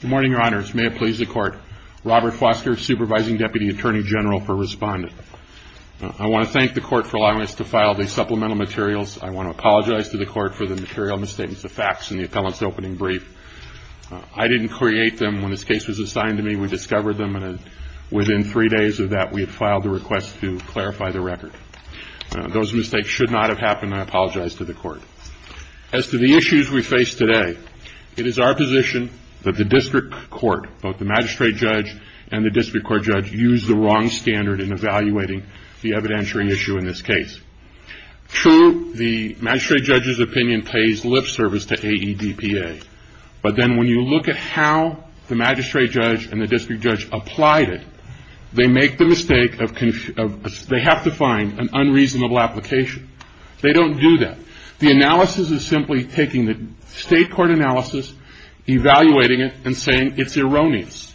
Good morning, Your Honors. May it please the Court, Robert Foster, Supervising Deputy Attorney General for Respondent. I want to thank the Court for allowing us to file these supplemental materials. I want to apologize to the Court for the material misstatements of facts in the appellant's opening brief. I didn't create them. When this case was assigned to me, we discovered them, and within three days of that, we had filed the request to clarify the record. Those mistakes should not have happened, and I apologize to the Court. As to the issues we face today, it is our position that the District Court, both the Magistrate Judge and the District Court Judge, use the wrong standard in evaluating the evidentiary issue in this case. True, the Magistrate Judge's opinion pays lip service to AEDPA, but then when you look at how the Magistrate Judge and the District Judge applied it, they make the mistake of, they have to find an unreasonable application. They don't do that. The analysis is simply taking the State Court analysis, evaluating it, and saying it's erroneous.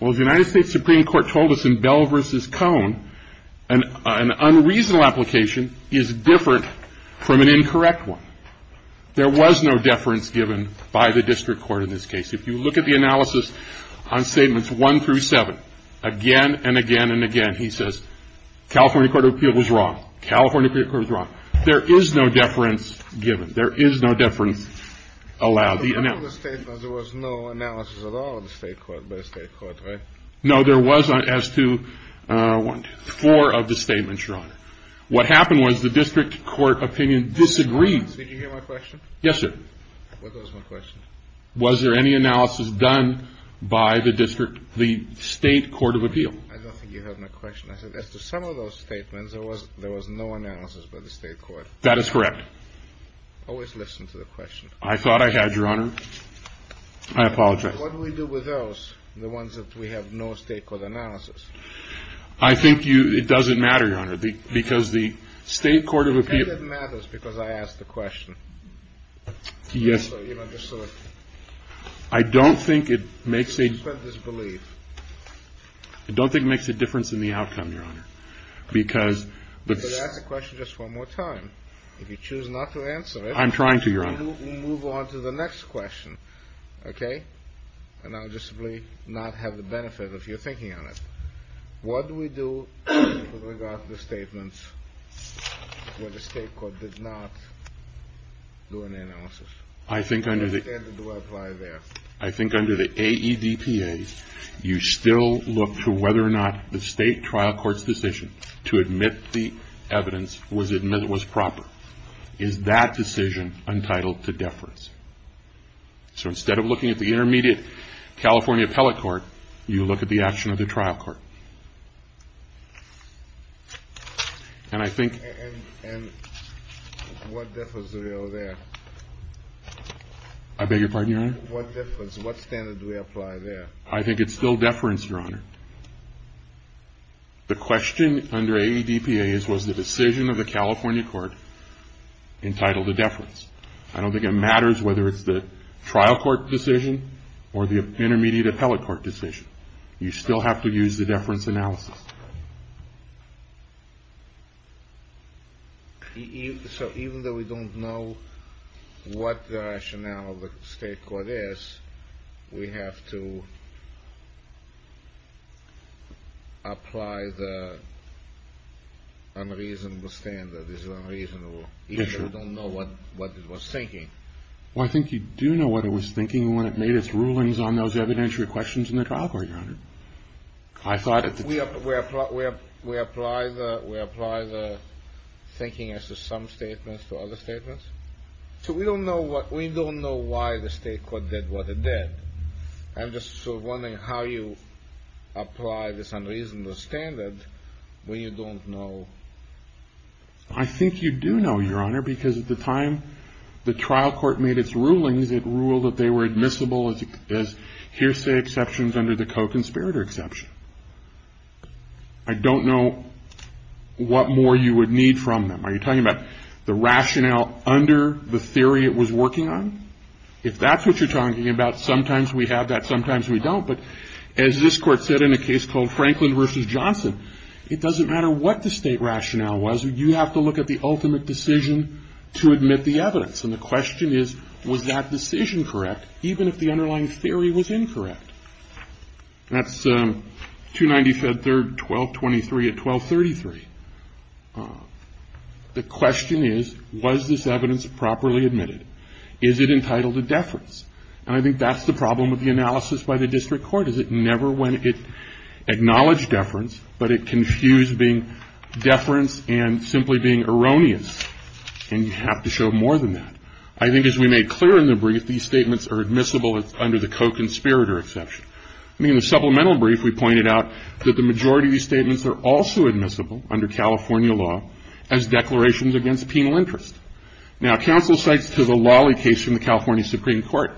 Well, the United States Supreme Court told us in Bell v. Cohn, an unreasonable application is different from an incorrect one. There was no deference given by the District Court in this case. If you look at the analysis on Statements 1 through 7, again and again and again, he says, California Court of Appeals is wrong. California Court of Appeals is wrong. There is no deference given. There is no deference allowed. There was no analysis at all by the State Court, right? No, there was as to four of the statements, Your Honor. What happened was the District Court opinion disagreed. Did you hear my question? Yes, sir. What was my question? Was there any analysis done by the State Court of Appeals? I don't think you have my question. As to some of those statements, there was no analysis by the State Court. That is correct. Always listen to the question. I thought I had, Your Honor. I apologize. What do we do with those, the ones that we have no State Court analysis? I think it doesn't matter, Your Honor, because the State Court of Appeals I think it matters because I asked the question. Yes. You know, just so that- I don't think it makes a- You spread disbelief. I don't think it makes a difference in the outcome, Your Honor, because- You could ask the question just one more time. If you choose not to answer it- I'm trying to, Your Honor. We move on to the next question, okay? And I'll just simply not have the benefit of you thinking on it. What do we do with regard to the statements where the state court did not do an analysis? I think under the- What standard do I apply there? I think under the AEDPA, you still look to whether or not the state trial court's decision to admit the evidence was proper. Is that decision entitled to deference? So instead of looking at the intermediate California appellate court, you look at the action of the trial court. And I think- And what deference do we owe there? I beg your pardon, Your Honor? What deference? What standard do we apply there? I think it's still deference, Your Honor. The question under AEDPA is, was the decision of the California court entitled to deference? I don't think it matters whether it's the trial court decision or the intermediate appellate court decision. You still have to use the deference analysis. So even though we don't know what the rationale of the state court is, we have to apply the unreasonable standard. This is unreasonable. Yes, Your Honor. Even though we don't know what it was thinking. Well, I think you do know what it was thinking when it made its rulings on those evidentiary questions in the trial court, Your Honor. I thought- We apply the thinking as to some statements to other statements. So we don't know why the state court did what it did. I'm just sort of wondering how you apply this unreasonable standard when you don't know. I think you do know, Your Honor, because at the time the trial court made its rulings, it ruled that they were admissible as hearsay exceptions under the co-conspirator exception. I don't know what more you would need from them. Are you talking about the rationale under the theory it was working on? If that's what you're talking about, sometimes we have that, sometimes we don't. But as this Court said in a case called Franklin v. Johnson, it doesn't matter what the state rationale was, you have to look at the ultimate decision to admit the evidence. And the question is, was that decision correct, even if the underlying theory was incorrect? That's 295-3-1223 at 1233. The question is, was this evidence properly admitted? Is it entitled to deference? And I think that's the problem with the analysis by the district court, is it never acknowledged deference, but it confused being deference and simply being erroneous. And you have to show more than that. I think as we made clear in the brief, these statements are admissible under the co-conspirator exception. I mean, in the supplemental brief, we pointed out that the majority of these statements are also admissible under California law as declarations against penal interest. Now, counsel cites the Lolly case from the California Supreme Court.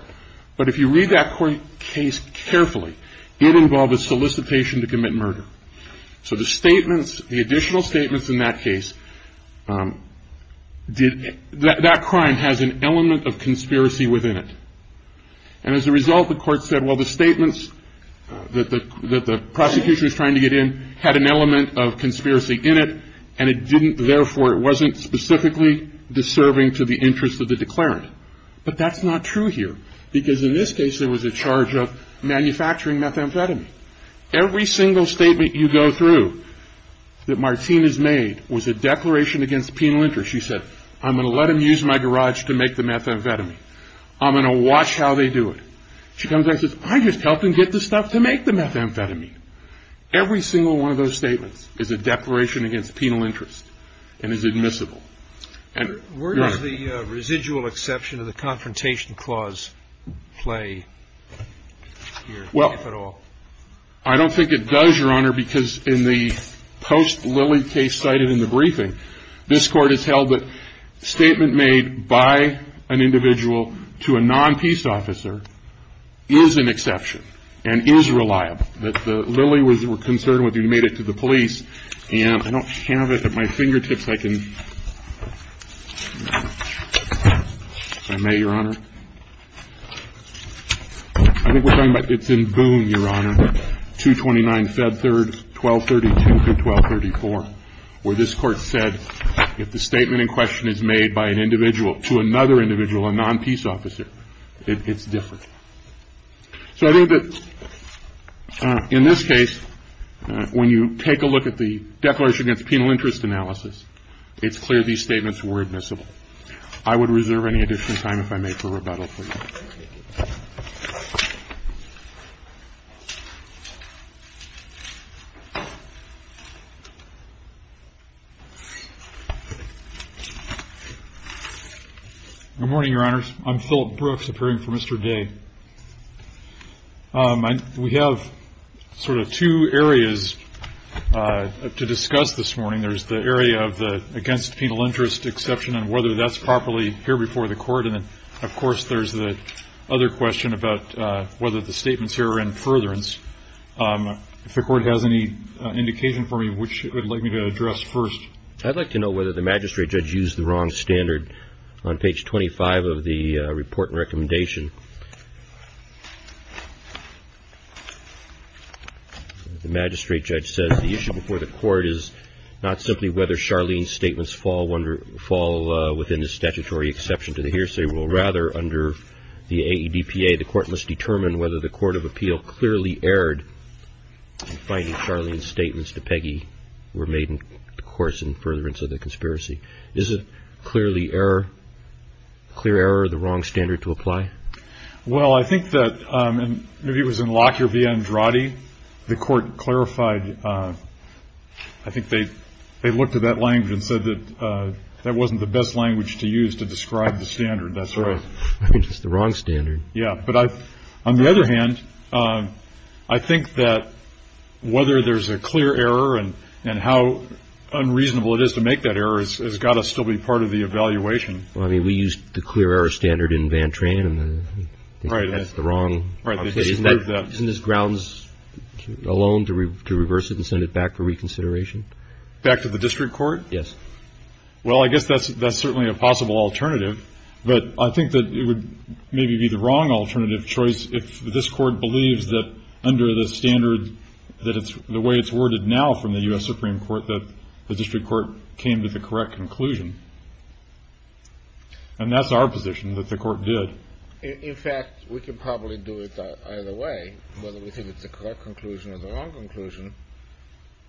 But if you read that case carefully, it involved a solicitation to commit murder. So the statements the additional statements in that case, that crime has an element of conspiracy within it. And as a result, the court said, well, the statements that the prosecution was trying to get in had an element of conspiracy in it, and it didn't, therefore it wasn't specifically deserving to the interest of the declarant. But that's not true here, because in this case, there was a charge of manufacturing methamphetamine. Every single statement you go through that Martinez made was a declaration against penal interest. She said, I'm going to let them use my garage to make the methamphetamine. I'm going to watch how they do it. She comes back and says, I just helped them get the stuff to make the methamphetamine. Every single one of those statements is a declaration against penal interest and is admissible. And, Your Honor. Where does the residual exception of the confrontation clause play here, if at all? Well, I don't think it does, Your Honor, because in the post-Lilley case cited in the briefing, this Court has held that statement made by an individual to a non-peace officer is an exception and is reliable. That the Lilley was concerned with, he made it to the police, and I don't have it at my fingertips. I can, if I may, Your Honor. I think we're talking about, it's in Boone, Your Honor, 229-Fed 3rd, 1232-1234, where this Court said if the statement in question is made by an individual to another individual, a non-peace officer, it's different. So I think that in this case, when you take a look at the declaration against penal interest analysis, it's clear these statements were admissible. I would reserve any additional time, if I may, for rebuttal, please. Good morning, Your Honors. I'm Philip Brooks, appearing for Mr. Day. We have sort of two areas to discuss this morning. There's the area of the against penal interest exception and whether that's properly here before the Court, and then, of course, there's the other question about whether the statements here are in furtherance. If the Court has any indication for me which it would like me to address first. I'd like to know whether the magistrate judge used the wrong standard on page 25 of the report and recommendation. The magistrate judge says the issue before the Court is not simply whether Charlene's statutory exception to the hearsay rule. Rather, under the AEDPA, the Court must determine whether the Court of Appeal clearly erred in finding Charlene's statements to Peggy were made, of course, in furtherance of the conspiracy. Is a clear error the wrong standard to apply? Well, I think that, and maybe it was in Lockyer v. Andrade, the Court clarified. I think they looked at that language and said that that wasn't the best language to use to describe the standard. That's right. I mean, it's the wrong standard. Yeah, but on the other hand, I think that whether there's a clear error and how unreasonable it is to make that error has got to still be part of the evaluation. Well, I mean, we used the clear error standard in Vantrain, and I think that's the wrong. Isn't this grounds alone to reverse it and send it back for reconsideration? Back to the district court? Yes. Well, I guess that's certainly a possible alternative. But I think that it would maybe be the wrong alternative choice if this Court believes that under the standard, the way it's worded now from the U.S. Supreme Court, that the district court came to the correct conclusion. And that's our position, that the Court did. In fact, we can probably do it either way. Whether we think it's the correct conclusion or the wrong conclusion,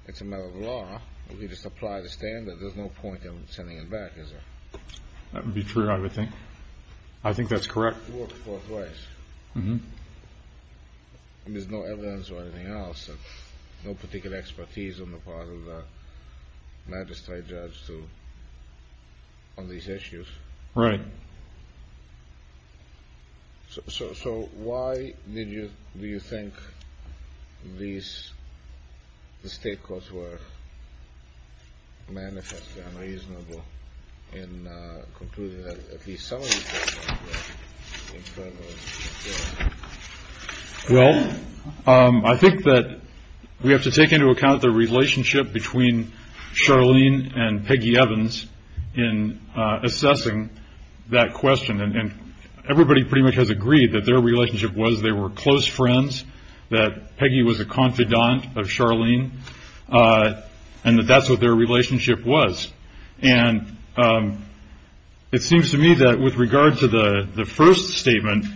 it's a matter of law. We just apply the standard. There's no point in sending it back, is there? That would be true, I would think. I think that's correct. It works both ways. Mm-hmm. I mean, there's no evidence or anything else, no particular expertise on the part of the magistrate judge on these issues. Right. So why do you think these state courts were manifestly unreasonable in concluding that at least some of these cases were infernal? Well, I think that we have to take into account the relationship between Charlene and Peggy that question. And everybody pretty much has agreed that their relationship was they were close friends, that Peggy was a confidant of Charlene, and that that's what their relationship was. And it seems to me that with regard to the first statement,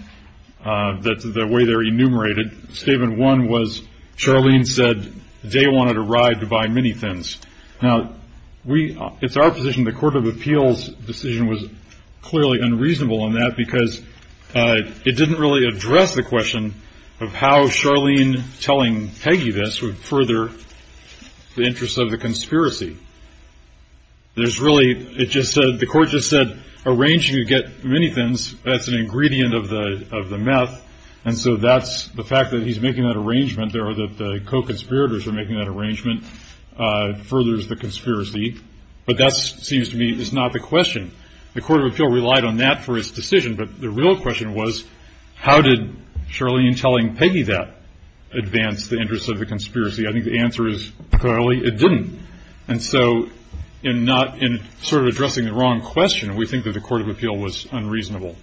the way they're enumerated, statement one was Charlene said they wanted a ride to buy many things. Now, it's our position the Court of Appeals' decision was clearly unreasonable on that because it didn't really address the question of how Charlene telling Peggy this would further the interests of the conspiracy. There's really the court just said arranging to get many things, that's an ingredient of the myth. And so that's the fact that he's making that arrangement, or that the co-conspirators are making that arrangement, furthers the conspiracy. But that seems to me is not the question. The Court of Appeal relied on that for its decision, but the real question was how did Charlene telling Peggy that advance the interests of the conspiracy? I think the answer is clearly it didn't. And so in sort of addressing the wrong question, we think that the Court of Appeal was unreasonable.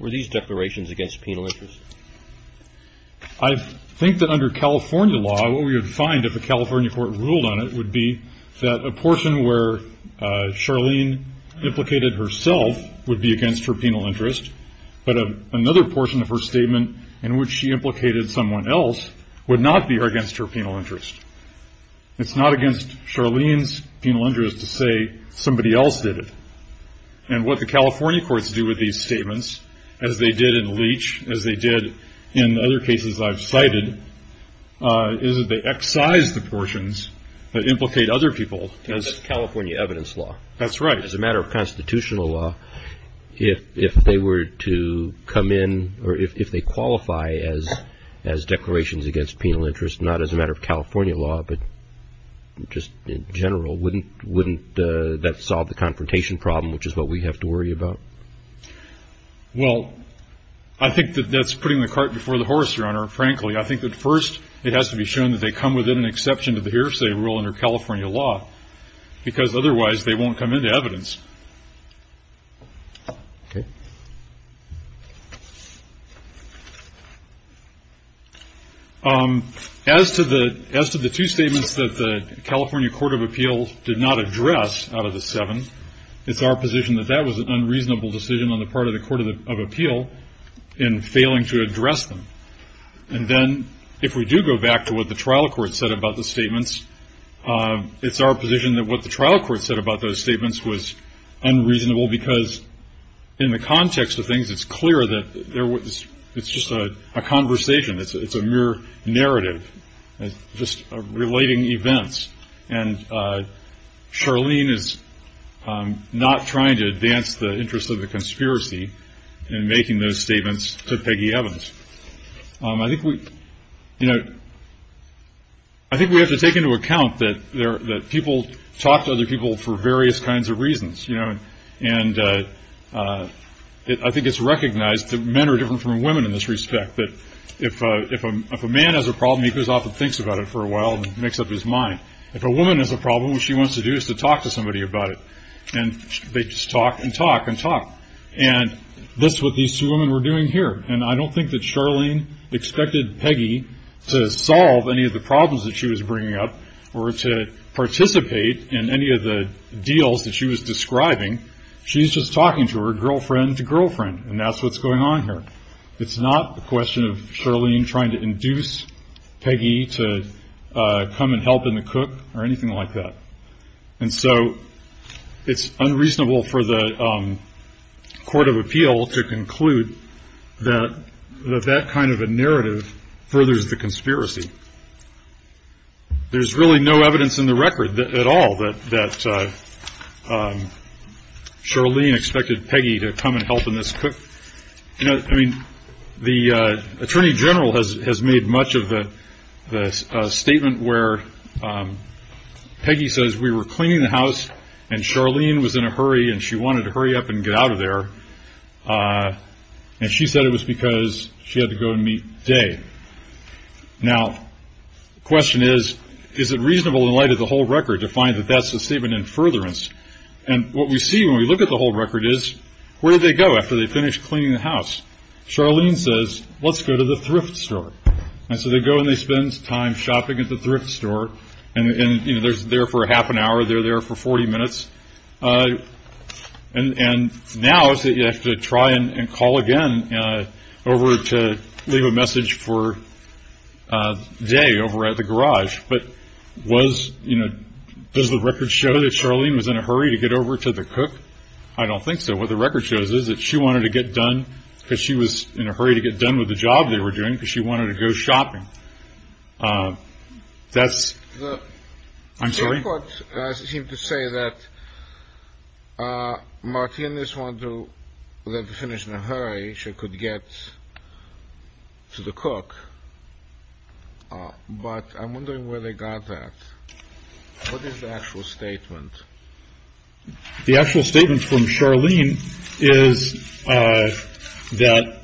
Were these declarations against penal interest? I think that under California law, what we would find if a California court ruled on it would be that a portion where Charlene implicated herself would be against her penal interest, but another portion of her statement in which she implicated someone else would not be against her penal interest. It's not against Charlene's penal interest to say somebody else did it. And what the California courts do with these statements, as they did in Leach, as they did in other cases I've cited, is that they excise the portions that implicate other people. That's California evidence law. That's right. As a matter of constitutional law, if they were to come in, or if they qualify as declarations against penal interest, not as a matter of California law, but just in general, wouldn't that solve the confrontation problem, which is what we have to worry about? Well, I think that that's putting the cart before the horse, Your Honor, frankly. I think that first it has to be shown that they come within an exception to the hearsay rule under California law, because otherwise they won't come into evidence. Okay. As to the two statements that the California Court of Appeals did not address out of the seven, it's our position that that was an unreasonable decision on the part of the Court of Appeal in failing to address them. And then if we do go back to what the trial court said about the statements, it's our position that what the trial court said about those statements was unreasonable because in the context of things, it's clear that it's just a conversation. It's a mere narrative, just relating events. And Charlene is not trying to advance the interest of the conspiracy in making those statements to Peggy Evans. I think we have to take into account that people talk to other people for various kinds of reasons, you know, and I think it's recognized that men are different from women in this respect, that if a man has a problem, he goes off and thinks about it for a while and makes up his mind. If a woman has a problem, what she wants to do is to talk to somebody about it. And they just talk and talk and talk. And that's what these two women were doing here. And I don't think that Charlene expected Peggy to solve any of the problems that she was bringing up or to participate in any of the deals that she was describing. She's just talking to her girlfriend's girlfriend, and that's what's going on here. It's not a question of Charlene trying to induce Peggy to come and help in the cook or anything like that. And so it's unreasonable for the court of appeal to conclude that that kind of a narrative furthers the conspiracy. There's really no evidence in the record at all that Charlene expected Peggy to come and help in this cook. You know, I mean, the attorney general has made much of the statement where Peggy says we were cleaning the house and Charlene was in a hurry and she wanted to hurry up and get out of there. And she said it was because she had to go and meet Day. Now, the question is, is it reasonable in light of the whole record to find that that's a statement in furtherance? And what we see when we look at the whole record is where did they go after they finished cleaning the house? Charlene says, let's go to the thrift store. And so they go and they spend time shopping at the thrift store. And, you know, they're there for a half an hour. They're there for 40 minutes. And now you have to try and call again over to leave a message for day over at the garage. But was you know, does the record show that Charlene was in a hurry to get over to the cook? I don't think so. What the record shows is that she wanted to get done because she was in a hurry to get done with the job they were doing because she wanted to go shopping. That's the I'm sorry. What does it seem to say that Martinez want to finish in a hurry? She could get to the cook. But I'm wondering where they got that. What is the actual statement? The actual statement from Charlene is that.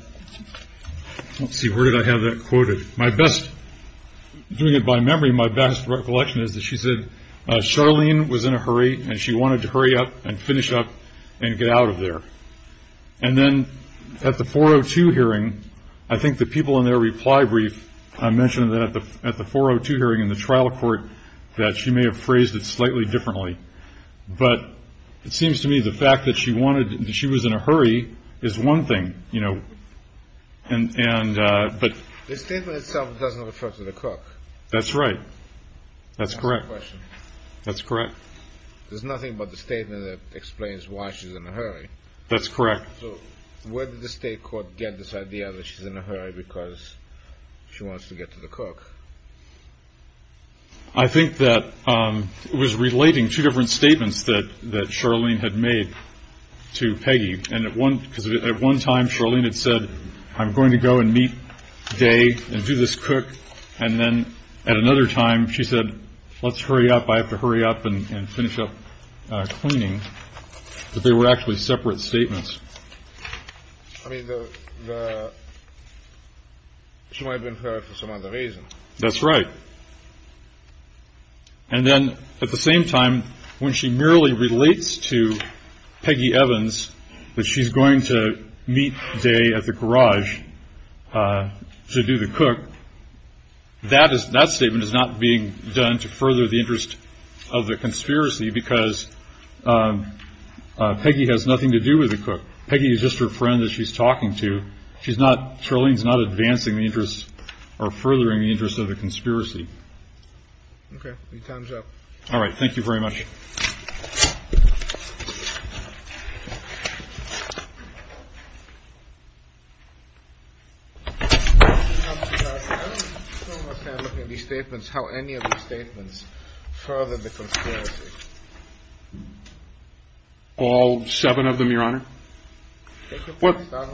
Let's see, where did I have that quoted? My best doing it by memory. My best recollection is that she said Charlene was in a hurry and she wanted to hurry up and finish up and get out of there. And then at the 402 hearing, I think the people in their reply brief. I mentioned that at the at the 402 hearing in the trial court that she may have phrased it slightly differently. But it seems to me the fact that she wanted she was in a hurry is one thing, you know. And but the statement itself doesn't refer to the cook. That's right. That's correct. That's correct. There's nothing but the statement that explains why she's in a hurry. That's correct. So where did the state court get this idea that she's in a hurry because she wants to get to the cook? I think that was relating to different statements that that Charlene had made to Peggy. And at one at one time, Charlene had said, I'm going to go and meet today and do this cook. And then at another time, she said, let's hurry up. I have to hurry up and finish up cleaning. They were actually separate statements. I mean, she might have been for some other reason. That's right. And then at the same time, when she merely relates to Peggy Evans, that she's going to meet day at the garage to do the cook. That is that statement is not being done to further the interest of the conspiracy because Peggy has nothing to do with the cook. Peggy is just her friend that she's talking to. She's not Charlene's not advancing the interest or furthering the interest of the conspiracy. OK, time's up. All right. Thank you very much. All seven of them, Your Honor. Well, I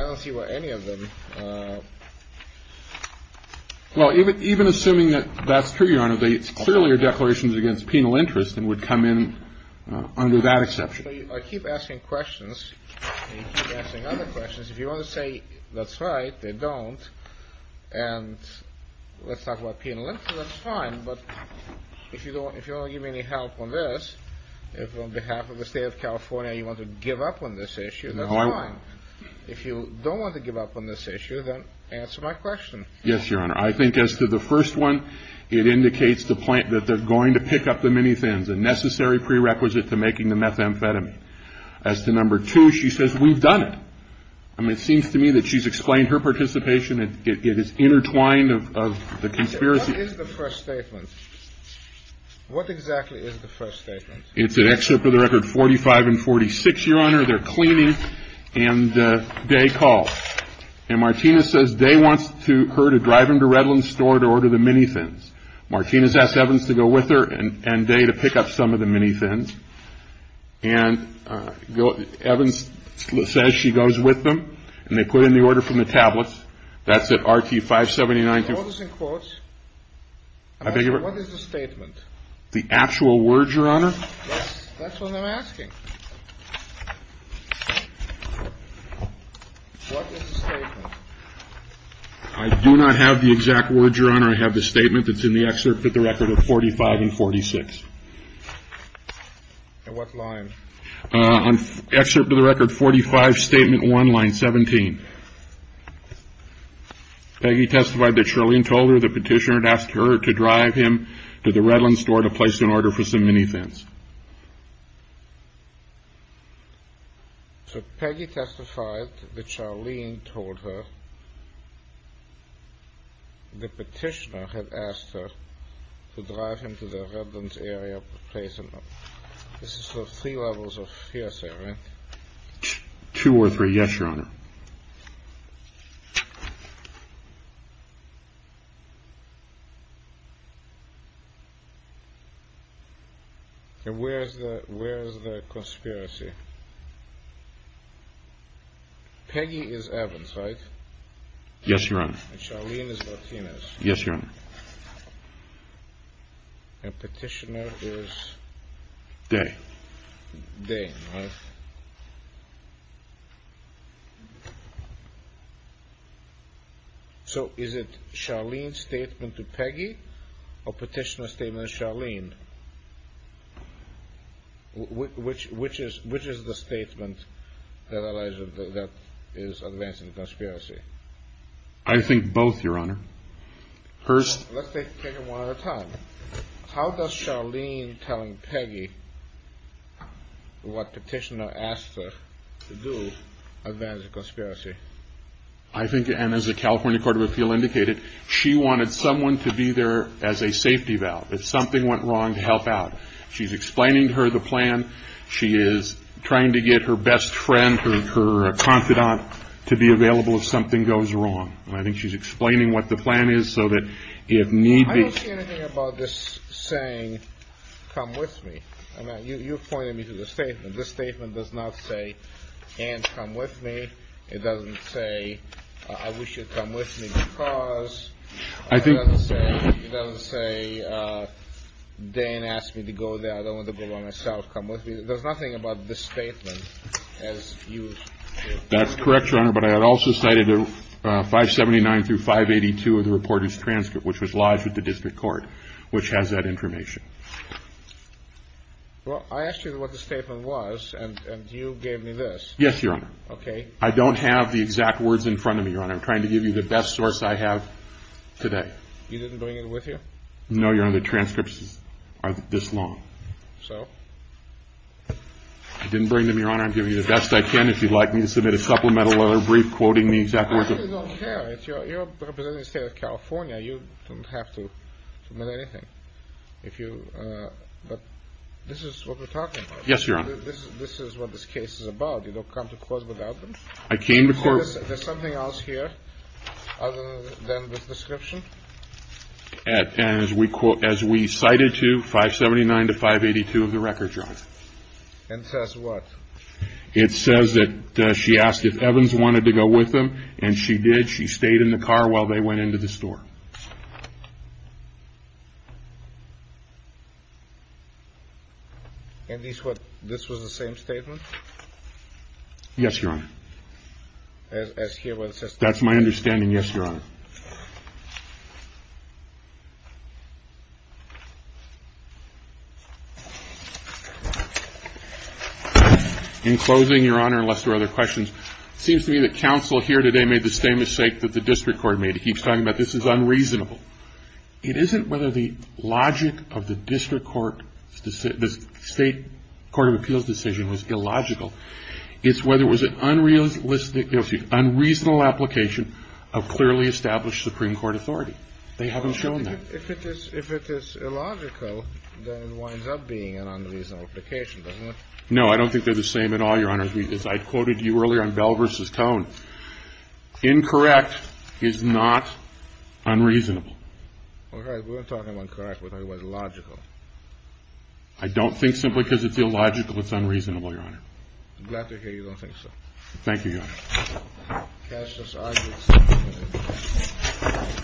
don't see where any of them. Well, even even assuming that that's true, Your Honor, the earlier declarations against penal interest and would come in under that exception. I keep asking questions and other questions. If you want to say that's right, they don't. And let's talk about penal interest. That's fine. But if you don't, if you don't give me any help on this, if on behalf of the state of California, you want to give up on this issue. If you don't want to give up on this issue, then answer my question. Yes, Your Honor. I think as to the first one, it indicates the point that they're going to pick up the many things and necessary prerequisite to making the methamphetamine. As to number two, she says we've done it. I mean, it seems to me that she's explained her participation. It is intertwined of the conspiracy. Is the first statement. What exactly is the first statement? It's an excerpt of the record. Forty five and forty six, Your Honor. They're cleaning. And they call. And Martinez says they want to her to drive him to Redlands store to order the many things. Martinez asked Evans to go with her and day to pick up some of the many things. And Evans says she goes with them and they put in the order from the tablets. That's it. RT 579. Quotes and quotes. I think what is the statement? The actual words, Your Honor. What is the statement? I do not have the exact word, Your Honor. I have the statement that's in the excerpt that the record of forty five and forty six. What line? An excerpt of the record. Forty five. Statement one line 17. Peggy testified that Charlene told her the petitioner had asked her to drive him to the Redlands store to place an order for some many things. So Peggy testified that Charlene told her the petitioner had asked her to drive him to the Redlands area to place an order. This is the three levels of hearsay, right? Two or three. Yes, Your Honor. And where is that? Where is the conspiracy? Peggy is Evans, right? Yes, Your Honor. Charlene is Martinez. Yes, Your Honor. And petitioner is? Day. Day. So is it Charlene's statement to Peggy or petitioner's statement to Charlene? Which is the statement that is advancing the conspiracy? Let's take it one at a time. How does Charlene telling Peggy what petitioner asked her to do advance the conspiracy? I think, and as the California Court of Appeal indicated, she wanted someone to be there as a safety valve if something went wrong to help out. She's explaining to her the plan. She is trying to get her best friend, her confidant, to be available if something goes wrong. I think she's explaining what the plan is so that if need be. I don't see anything about this saying, come with me. I mean, you're pointing me to the statement. This statement does not say, Ann, come with me. It doesn't say, I wish you'd come with me because. I think. It doesn't say, Dan asked me to go there. I don't want to go by myself. Come with me. There's nothing about this statement as you. That's correct, Your Honor. But I had also cited 579 through 582 of the reporter's transcript, which was lodged with the district court, which has that information. Well, I asked you what the statement was, and you gave me this. Yes, Your Honor. Okay. I don't have the exact words in front of me, Your Honor. I'm trying to give you the best source I have today. You didn't bring it with you? No, Your Honor. The transcripts are this long. So? I didn't bring them, Your Honor. I'm trying to give you the best I can. If you'd like me to submit a supplemental or a brief quoting the exact words. I really don't care. You're representing the state of California. You don't have to admit anything. If you, but this is what we're talking about. Yes, Your Honor. This is what this case is about. You don't come to court without them. I came to court. There's something else here other than this description? As we cited to, 579 to 582 of the record, Your Honor. And it says what? It says that she asked if Evans wanted to go with them, and she did. She stayed in the car while they went into the store. And this was the same statement? Yes, Your Honor. As here where it says? That's my understanding, yes, Your Honor. In closing, Your Honor, unless there are other questions, it seems to me that counsel here today made the same mistake that the district court made. He keeps talking about this is unreasonable. It isn't whether the logic of the district court, the state court of appeals decision was illogical. It's whether it was an unreasonable application of clearly established Supreme Court authority. They haven't shown that. If it is illogical, then it winds up being an unreasonable application, doesn't it? No, I don't think they're the same at all, Your Honor. As I quoted you earlier on Bell v. Cohn, incorrect is not unreasonable. All right. We weren't talking about correct, we were talking about illogical. I don't think simply because it's illogical it's unreasonable, Your Honor. I'm glad to hear you don't think so. Thank you, Your Honor.